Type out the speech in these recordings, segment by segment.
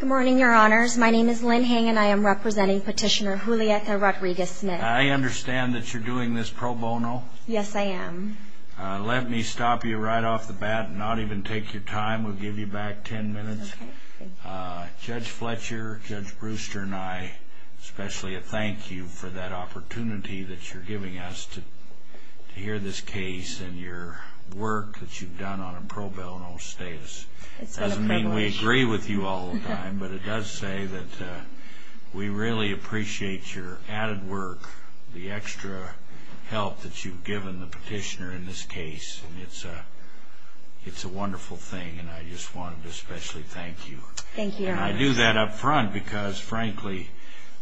Good morning, Your Honors. My name is Lynn Hang and I am representing Petitioner Julietta Rodriguez-Smith. I understand that you're doing this pro bono. Yes, I am. Let me stop you right off the bat and not even take your time. We'll give you back ten minutes. Okay. Judge Fletcher, Judge Brewster, and I especially thank you for that opportunity that you're giving us to hear this case and your work that you've done on a pro bono status. It's been a privilege. It doesn't mean we agree with you all the time, but it does say that we really appreciate your added work, the extra help that you've given the petitioner in this case. It's a wonderful thing and I just wanted to especially thank you. Thank you, Your Honors. And I do that up front because, frankly,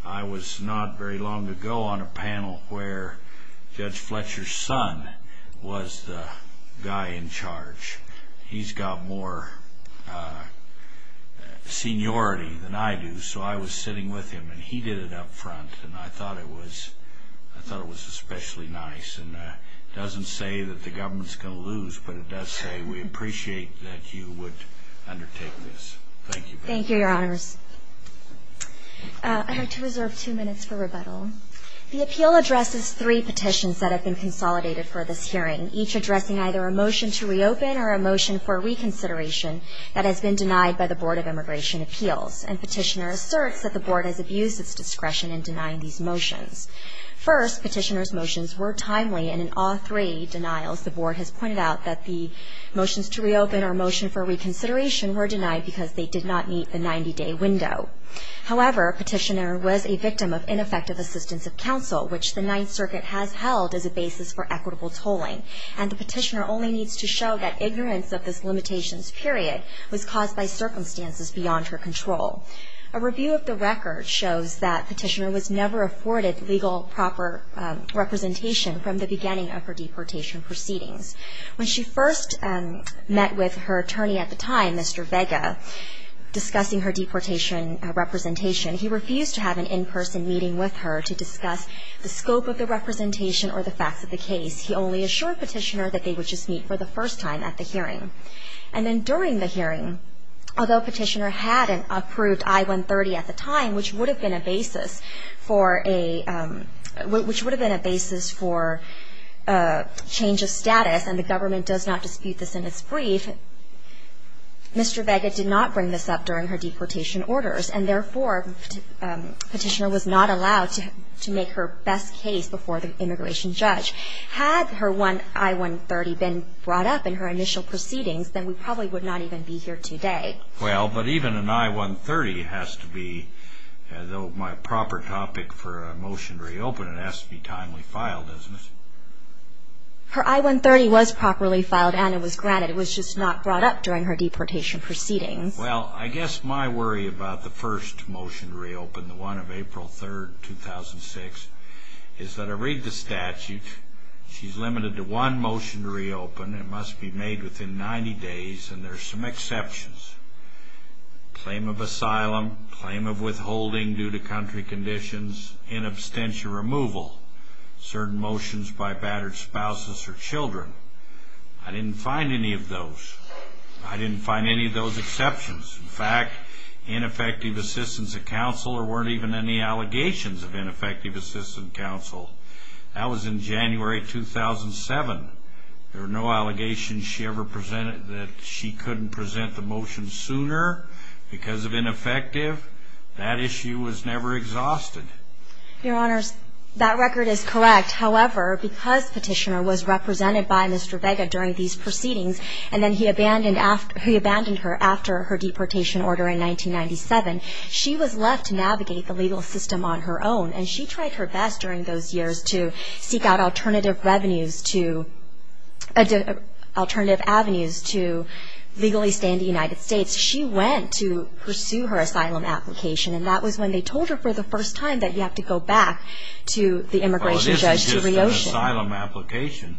I was not very long ago on a panel where Judge Fletcher's son was the guy in charge. He's got more seniority than I do, so I was sitting with him and he did it up front and I thought it was especially nice. It doesn't say that the government's going to lose, but it does say we appreciate that you would undertake this. Thank you. Thank you, Your Honors. I'd like to reserve two minutes for rebuttal. The appeal addresses three petitions that have been consolidated for this hearing, each addressing either a motion to reopen or a motion for reconsideration that has been denied by the Board of Immigration Appeals, and Petitioner asserts that the Board has abused its discretion in denying these motions. First, Petitioner's motions were timely, and in all three denials the Board has pointed out that the motions to reopen or motion for reconsideration were denied because they did not meet the 90-day window. However, Petitioner was a victim of ineffective assistance of counsel, which the Ninth Circuit has held as a basis for equitable tolling, and the Petitioner only needs to show that ignorance of this limitations period was caused by circumstances beyond her control. A review of the record shows that Petitioner was never afforded legal proper representation from the beginning of her deportation proceedings. When she first met with her attorney at the time, Mr. Vega, discussing her deportation representation, he refused to have an in-person meeting with her to discuss the scope of the representation or the facts of the case. He only assured Petitioner that they would just meet for the first time at the hearing. And then during the hearing, although Petitioner had approved I-130 at the time, which would have been a basis for a change of status, and the government does not dispute this in its brief, Mr. Vega did not bring this up during her deportation orders, and therefore Petitioner was not allowed to make her best case before the immigration judge. Had her I-130 been brought up in her initial proceedings, then we probably would not even be here today. Well, but even an I-130 has to be, though my proper topic for a motion to reopen, it has to be timely filed, doesn't it? Her I-130 was properly filed and it was granted. It was just not brought up during her deportation proceedings. Well, I guess my worry about the first motion to reopen, the one of April 3rd, 2006, is that I read the statute, she's limited to one motion to reopen, it must be made within 90 days, and there are some exceptions. Claim of asylum, claim of withholding due to country conditions, inabstentia removal, certain motions by battered spouses or children. I didn't find any of those. I didn't find any of those exceptions. In fact, ineffective assistance of counsel, there weren't even any allegations of ineffective assistance of counsel. That was in January 2007. There were no allegations she ever presented that she couldn't present the motion sooner because of ineffective. That issue was never exhausted. Your Honors, that record is correct. However, because Petitioner was represented by Mr. Vega during these proceedings and then he abandoned her after her deportation order in 1997, she was left to navigate the legal system on her own, and she tried her best during those years to seek out alternative avenues to legally stay in the United States. She went to pursue her asylum application, and that was when they told her for the first time that you have to go back to the immigration judge to reopen. Well, it isn't just an asylum application.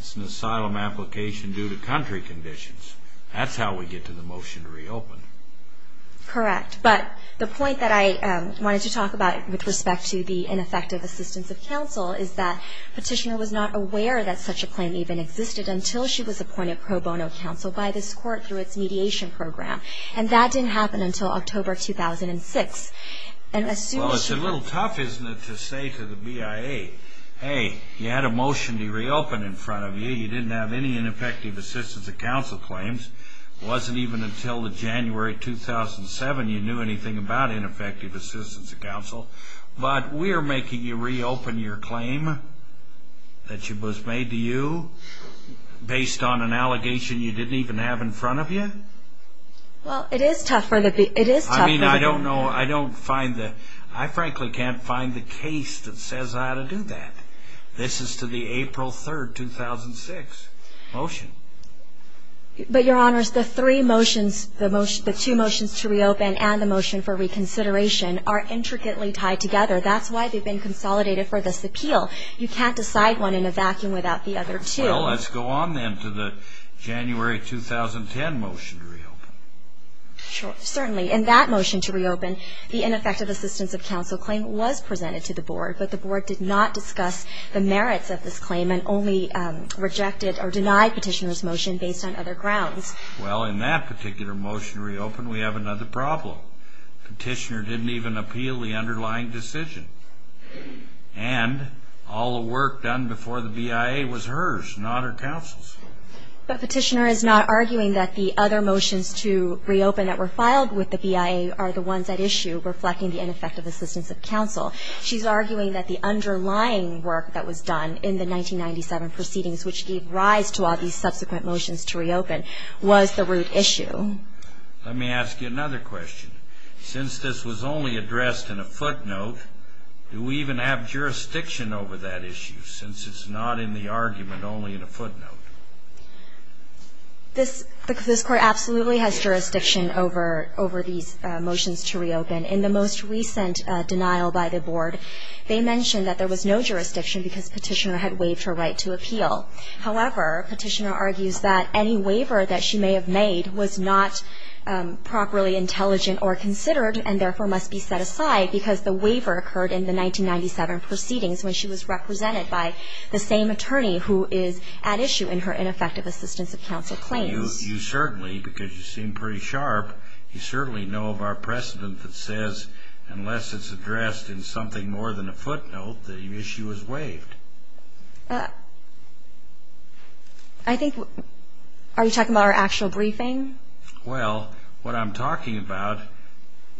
It's an asylum application due to country conditions. That's how we get to the motion to reopen. Correct. But the point that I wanted to talk about with respect to the ineffective assistance of counsel is that Petitioner was not aware that such a claim even existed until she was appointed pro bono counsel by this Court through its mediation program, and that didn't happen until October 2006. Well, it's a little tough, isn't it, to say to the BIA, hey, you had a motion to reopen in front of you. You didn't have any ineffective assistance of counsel claims. It wasn't even until January 2007 you knew anything about ineffective assistance of counsel. But we're making you reopen your claim that was made to you based on an allegation you didn't even have in front of you? Well, it is tough for the BIA. I mean, I don't know. I frankly can't find the case that says how to do that. This is to the April 3, 2006 motion. But, Your Honors, the three motions, the two motions to reopen and the motion for reconsideration are intricately tied together. That's why they've been consolidated for this appeal. You can't decide one in a vacuum without the other two. Well, let's go on then to the January 2010 motion to reopen. Certainly. In that motion to reopen, the ineffective assistance of counsel claim was presented to the Board, but the Board did not discuss the merits of this claim and only rejected or denied Petitioner's motion based on other grounds. Well, in that particular motion to reopen, we have another problem. Petitioner didn't even appeal the underlying decision. And all the work done before the BIA was hers, not her counsel's. But Petitioner is not arguing that the other motions to reopen that were filed with the BIA are the ones at issue reflecting the ineffective assistance of counsel. She's arguing that the underlying work that was done in the 1997 proceedings, which gave rise to all these subsequent motions to reopen, was the root issue. Let me ask you another question. Since this was only addressed in a footnote, do we even have jurisdiction over that issue, since it's not in the argument, only in a footnote? This Court absolutely has jurisdiction over these motions to reopen. In the most recent denial by the Board, they mentioned that there was no jurisdiction because Petitioner had waived her right to appeal. However, Petitioner argues that any waiver that she may have made was not properly intelligent or considered and therefore must be set aside because the waiver occurred in the 1997 proceedings when she was represented by the same attorney who is at issue in her ineffective assistance of counsel claims. Well, you certainly, because you seem pretty sharp, you certainly know of our precedent that says unless it's addressed in something more than a footnote, the issue is waived. I think, are you talking about our actual briefing? Well, what I'm talking about,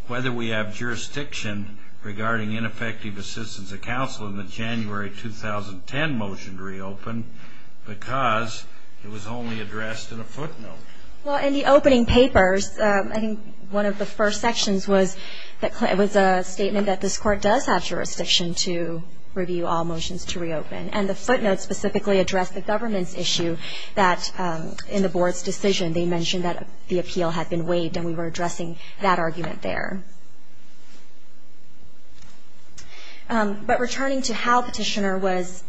whether we have jurisdiction regarding ineffective assistance of counsel in the January 2010 motion to reopen because it was only addressed in a footnote. Well, in the opening papers, I think one of the first sections was that it was a statement that this Court does have jurisdiction to review all motions to reopen. And the footnotes specifically address the government's issue that in the Board's decision they mentioned that the appeal had been waived and we were addressing that argument there. But returning to how Petitioner was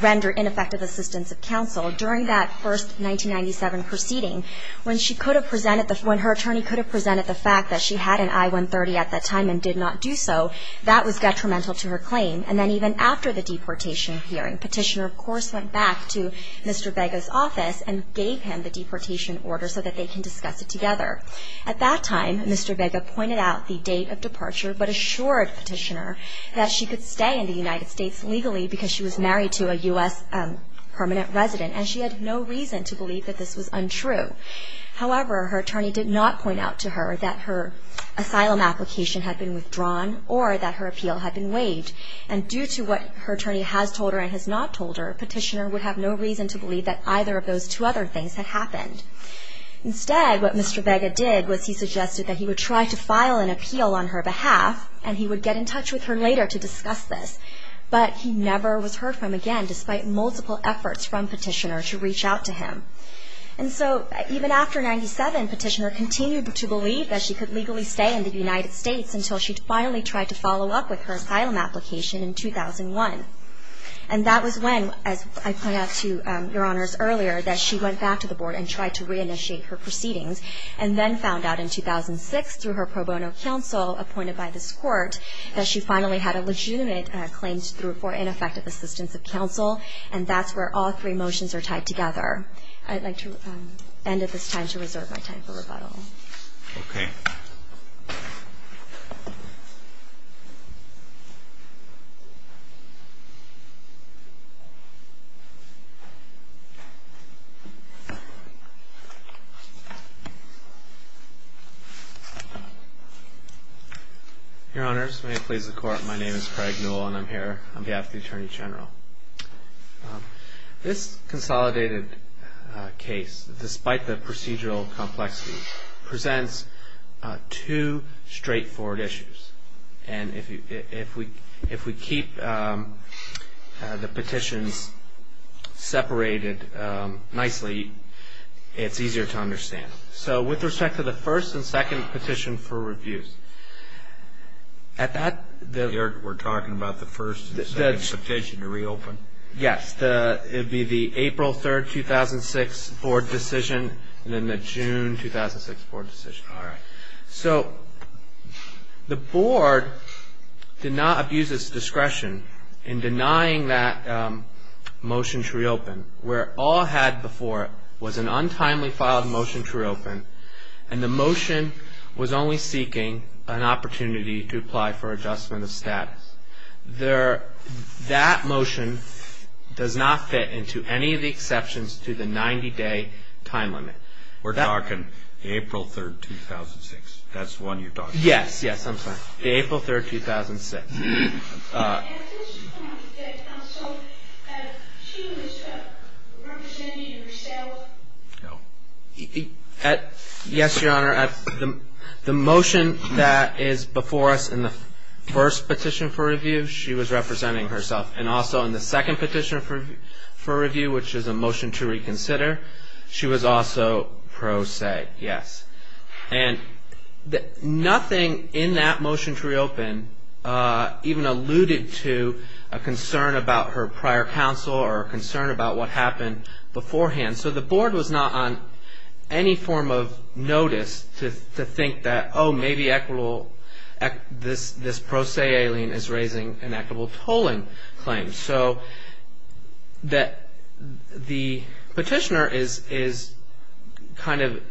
rendered ineffective assistance of counsel, during that first 1997 proceeding, when she could have presented the when her attorney could have presented the fact that she had an I-130 at that time and did not do so, that was detrimental to her claim. And then even after the deportation hearing, Petitioner, of course, went back to Mr. Vega's office and gave him the deportation order so that they can discuss it together. At that time, Mr. Vega pointed out the date of departure, but assured Petitioner that she could stay in the United States legally because she was married to a U.S. permanent resident. And she had no reason to believe that this was untrue. However, her attorney did not point out to her that her asylum application had been withdrawn or that her appeal had been waived. And due to what her attorney has told her and has not told her, Petitioner would have no reason to believe that either of those two other things had happened. Instead, what Mr. Vega did was he suggested that he would try to file an appeal on her behalf and he would get in touch with her later to discuss this. But he never was heard from again, despite multiple efforts from Petitioner to reach out to him. And so, even after 97, Petitioner continued to believe that she could legally stay in the United States until she finally tried to follow up with her asylum application in 2001. And that was when, as I pointed out to Your Honors earlier, that she went back to the board and tried to reinitiate her proceedings and then found out in 2006, through her pro bono counsel appointed by this court, that she finally had a legitimate claim for ineffective assistance of counsel. And that's where all three motions are tied together. I'd like to end at this time to reserve my time for rebuttal. Okay. Your Honors, may it please the Court. My name is Craig Newell and I'm here on behalf of the Attorney General. This consolidated case, despite the procedural complexity, presents two straightforward issues. And if we keep the petitions separated nicely, it's easier to understand. So, with respect to the first and second petition for reviews, at that the we're talking about the first and second petition to reopen? Yes. It would be the April 3, 2006 board decision and then the June 2006 board decision. All right. So, the board did not abuse its discretion in denying that motion to reopen, where all it had before was an untimely filed motion to reopen And the motion was only seeking an opportunity to apply for adjustment of status. That motion does not fit into any of the exceptions to the 90-day time limit. We're talking April 3, 2006. That's the one you're talking about? Yes. Yes, I'm sorry. The April 3, 2006. At this point, the counsel, she was representing herself? No. Yes, Your Honor. The motion that is before us in the first petition for review, she was representing herself. And also in the second petition for review, which is a motion to reconsider, she was also pro se. Yes. And nothing in that motion to reopen even alluded to a concern about her prior counsel or a concern about what happened beforehand. So, the board was not on any form of notice to think that, oh, maybe equitable, this pro se alien is raising an equitable tolling claim. So, the petitioner is kind of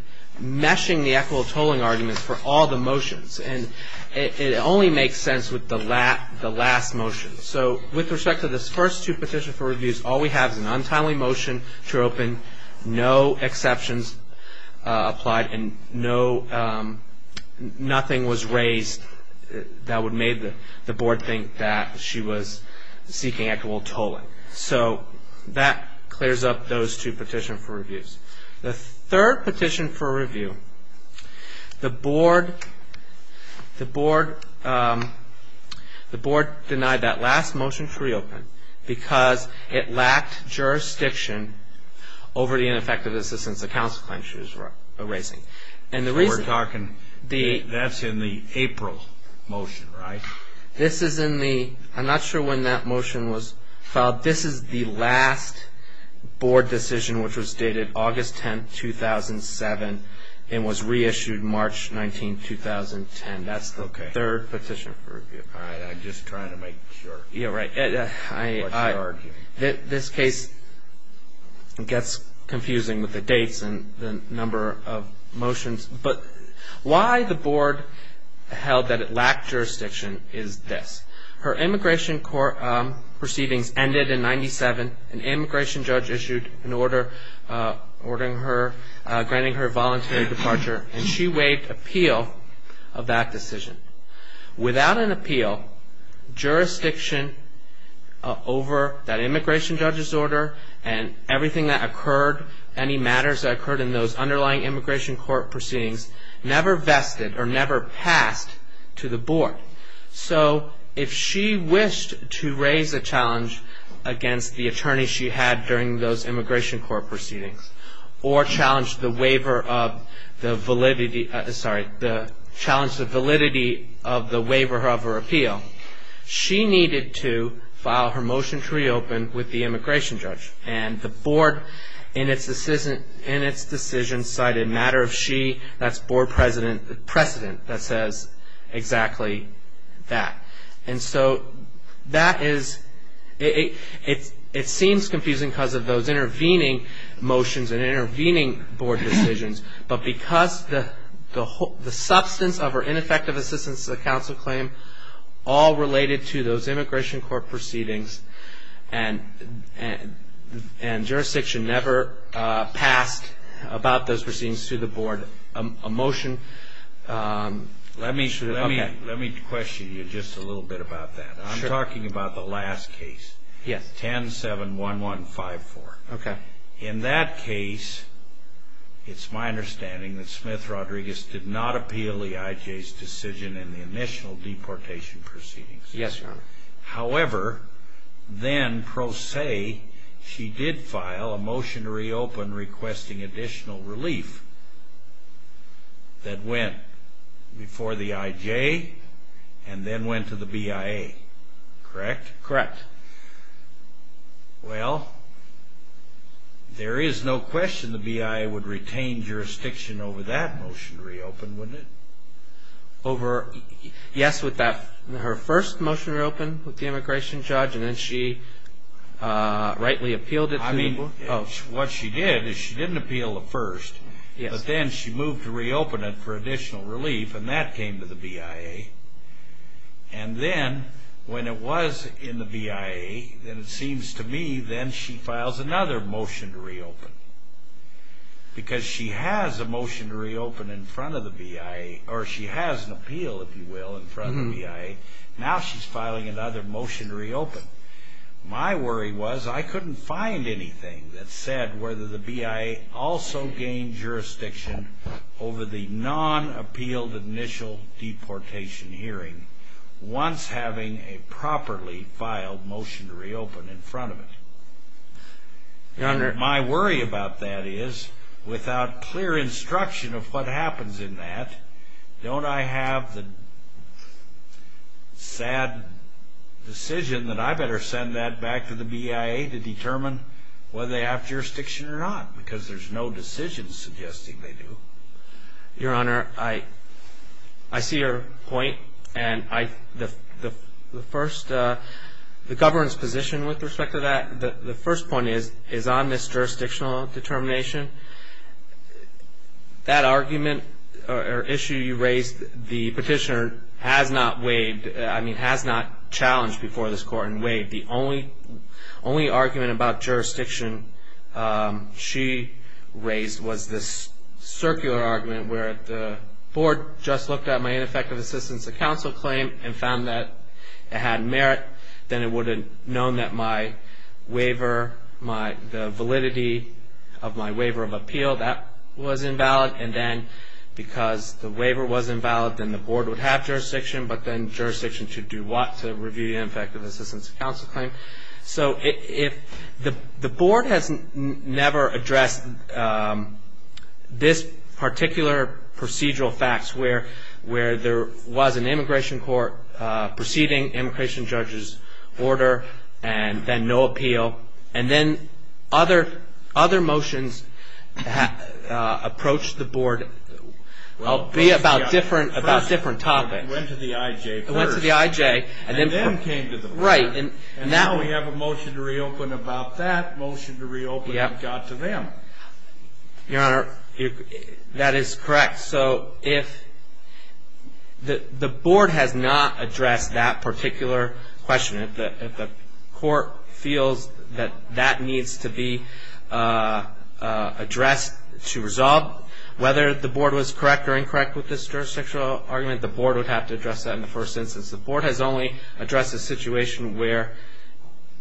meshing the equitable tolling arguments for all the motions. And it only makes sense with the last motion. So, with respect to the first two petitions for reviews, all we have is an untimely motion to reopen, no exceptions applied, and nothing was raised that would make the board think that she was seeking equitable tolling. So, that clears up those two petitions for reviews. The third petition for review, the board denied that last motion to reopen because it lacked jurisdiction over the ineffective assistance the counsel claim she was raising. We're talking, that's in the April motion, right? This is in the, I'm not sure when that motion was filed. This is the last board decision, which was dated August 10, 2007, and was reissued March 19, 2010. That's the third petition for review. All right, I'm just trying to make sure. Yeah, right. This case gets confusing with the dates and the number of motions. But why the board held that it lacked jurisdiction is this. Her immigration proceedings ended in 97. An immigration judge issued an order granting her voluntary departure, and she waived appeal of that decision. Without an appeal, jurisdiction over that immigration judge's order and everything that occurred, any matters that occurred in those underlying immigration court proceedings, never vested or never passed to the board. So, if she wished to raise a challenge against the attorney she had during those immigration court proceedings, or challenge the waiver of the validity, sorry, challenge the validity of the waiver of her appeal, she needed to file her motion to reopen with the immigration judge. And the board, in its decision, cited matter of she, that's board precedent that says exactly that. And so, that is, it seems confusing because of those intervening motions and intervening board decisions. But because the substance of her ineffective assistance to the counsel claim all related to those immigration court proceedings, and jurisdiction never passed about those proceedings to the board, a motion. Let me question you just a little bit about that. I'm talking about the last case. Yes. 10-7-1-1-5-4. Okay. In that case, it's my understanding that Smith-Rodriguez did not appeal the IJ's decision in the initial deportation proceedings. Yes, Your Honor. However, then pro se, she did file a motion to reopen requesting additional relief that went before the IJ and then went to the BIA. Correct? Correct. Well, there is no question the BIA would retain jurisdiction over that motion to reopen, wouldn't it? Yes, with that, her first motion to reopen with the immigration judge and then she rightly appealed it to the board? I mean, what she did is she didn't appeal the first. Yes. But then she moved to reopen it for additional relief and that came to the BIA. And then, when it was in the BIA, then it seems to me then she files another motion to reopen. Because she has a motion to reopen in front of the BIA or she has an appeal, if you will, in front of the BIA. Now she's filing another motion to reopen. My worry was I couldn't find anything that said whether the BIA also gained jurisdiction over the non-appealed initial deportation hearing once having a properly filed motion to reopen in front of it. Your Honor. My worry about that is without clear instruction of what happens in that, don't I have the sad decision that I better send that back to the BIA to determine whether they have jurisdiction or not? Because there's no decision suggesting they do. Your Honor, I see your point. And the first, the government's position with respect to that, the first point is on this jurisdictional determination. That argument or issue you raised, the petitioner has not waived, I mean, has not challenged before this court and waived. The only argument about jurisdiction she raised was this circular argument where the board just looked at my ineffective assistance of counsel claim and found that it had merit. Then it would have known that my waiver, the validity of my waiver of appeal, that was invalid. And then because the waiver was invalid, then the board would have jurisdiction, but then jurisdiction should do what? To review the ineffective assistance of counsel claim. So if the board has never addressed this particular procedural facts where there was an immigration court proceeding immigration judge's order and then no appeal. And then other motions approached the board about different topics. It went to the IJ first. It went to the IJ. And then came to the board. Right. And now we have a motion to reopen about that motion to reopen. It got to them. Your Honor, that is correct. So if the board has not addressed that particular question, if the court feels that that needs to be addressed to resolve whether the board was correct or incorrect with this jurisdictional argument, the board would have to address that in the first instance. The board has only addressed a situation where,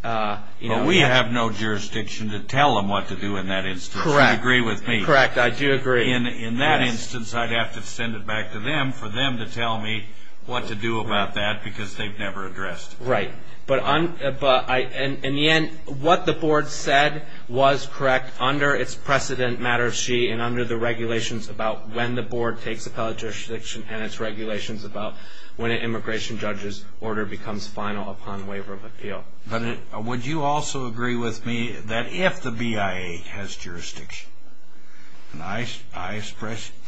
you know. But we have no jurisdiction to tell them what to do in that instance. Correct. Do you agree with me? Correct. I do agree. In that instance, I'd have to send it back to them for them to tell me what to do about that because they've never addressed it. Right. But in the end, what the board said was correct under its precedent matter sheet and under the regulations about when the board takes appellate jurisdiction and its regulations about when an immigration judge's order becomes final upon waiver of appeal. But would you also agree with me that if the BIA has jurisdiction, and I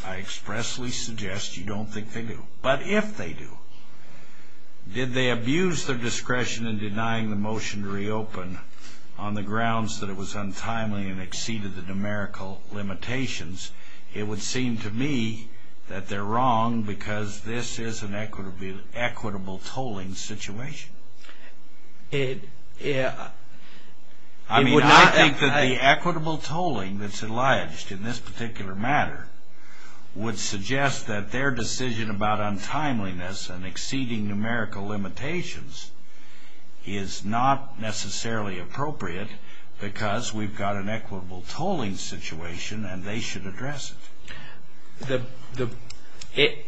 expressly suggest you don't think they do, but if they do, did they abuse their discretion in denying the motion to reopen on the grounds that it was untimely and exceeded the numerical limitations? It would seem to me that they're wrong because this is an equitable tolling situation. I mean, I think that the equitable tolling that's alleged in this particular matter would suggest that their decision about untimeliness and exceeding numerical limitations is not necessarily appropriate because we've got an equitable tolling situation and they should address it.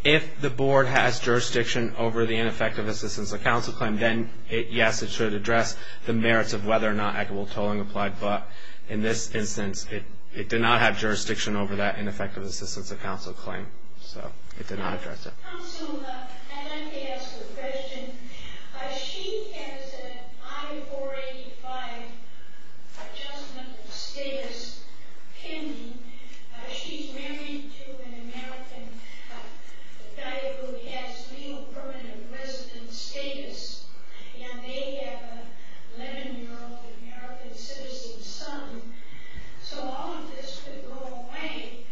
If the board has jurisdiction over the ineffective assistance of counsel claim, then yes, it should address the merits of whether or not equitable tolling applied. But in this instance, it did not have jurisdiction over that ineffective assistance of counsel claim, so it did not address it. Counsel, I'd like to ask a question. She has an I-485 adjustment status pending. She's married to an American guy who has legal permanent residence status, and they have an 11-year-old American citizen son. So all of this could go away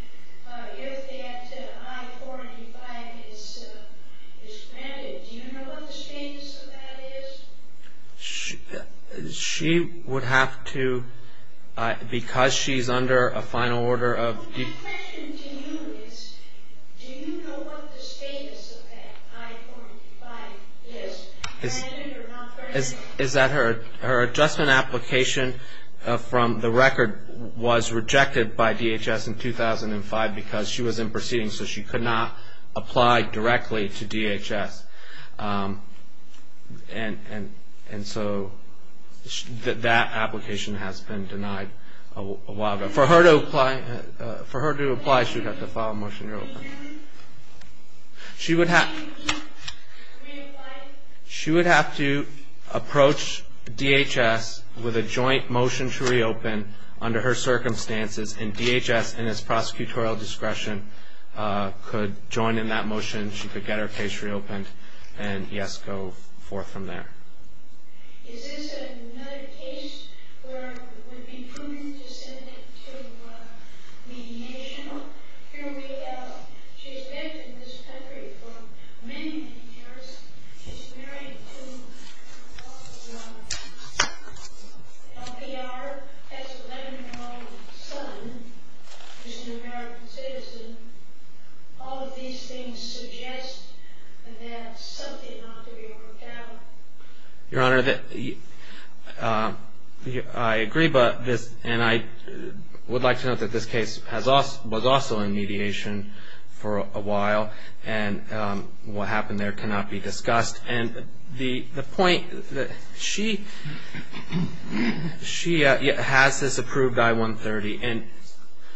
if that I-485 is granted. Do you know what the status of that is? She would have to, because she's under a final order of... My question to you is, do you know what the status of that I-485 is, granted or not granted? Her adjustment application from the record was rejected by DHS in 2005 because she was in proceedings, so she could not apply directly to DHS. And so that application has been denied a while ago. For her to apply, she would have to file a motion to reopen. She would have to approach DHS with a joint motion to reopen under her circumstances, and DHS, in its prosecutorial discretion, could join in that motion. She could get her case reopened and, yes, go forth from there. Is this another case where it would be prudent to send it to mediation? Here we have, she's lived in this country for many, many years. She's married to an LPR, has an 11-year-old son, who's an American citizen. All of these things suggest that something ought to be worked out. Your Honor, I agree, and I would like to note that this case was also in mediation for a while, and what happened there cannot be discussed. And the point, she has this approved I-130, and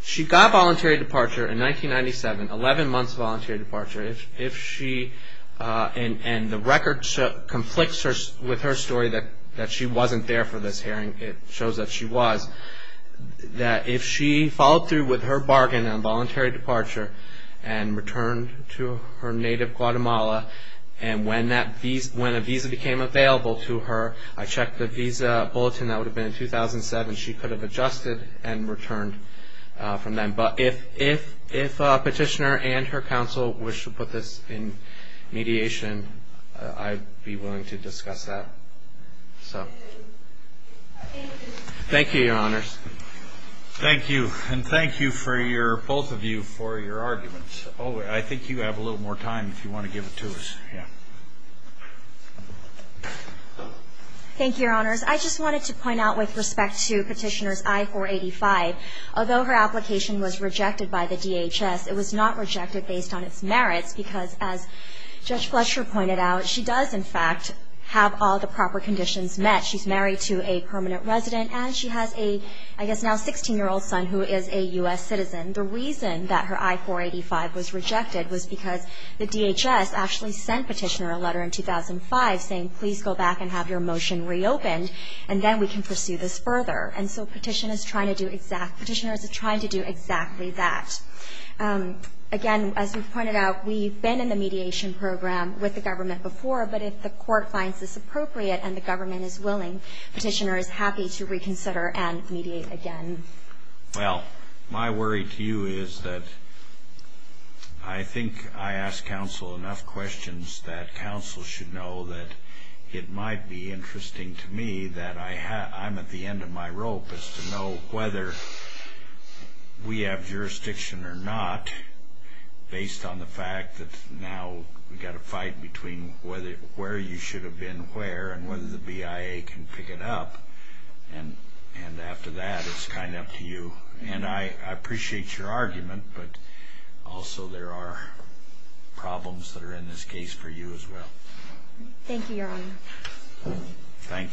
she got voluntary departure in 1997, 11 months of voluntary departure. If she, and the record conflicts with her story that she wasn't there for this hearing. It shows that she was. That if she followed through with her bargain on voluntary departure and returned to her native Guatemala, and when a visa became available to her, I checked the visa bulletin. That would have been in 2007. She could have adjusted and returned from then. But if a petitioner and her counsel wish to put this in mediation, I'd be willing to discuss that. Thank you, Your Honors. Thank you. And thank you for your, both of you, for your arguments. Oh, I think you have a little more time if you want to give it to us. Yeah. Thank you, Your Honors. I just wanted to point out with respect to Petitioner's I-485. Although her application was rejected by the DHS, it was not rejected based on its merits, because as Judge Fletcher pointed out, she does, in fact, have all the proper conditions met. She's married to a permanent resident, and she has a, I guess, now 16-year-old son who is a U.S. citizen. The reason that her I-485 was rejected was because the DHS actually sent Petitioner a letter in 2005 saying, please go back and have your motion reopened, and then we can pursue this further. And so Petitioner is trying to do exactly that. Again, as we've pointed out, we've been in the mediation program with the government before, but if the court finds this appropriate and the government is willing, Petitioner is happy to reconsider and mediate again. Well, my worry to you is that I think I ask counsel enough questions that counsel should know that it might be interesting to me that I'm at the end of my rope as to know whether we have jurisdiction or not based on the fact that now we've got to fight between where you should have been where and whether the BIA can pick it up. And after that, it's kind of up to you. And I appreciate your argument, but also there are problems that are in this case for you as well. Thank you, Your Honor. Thank you.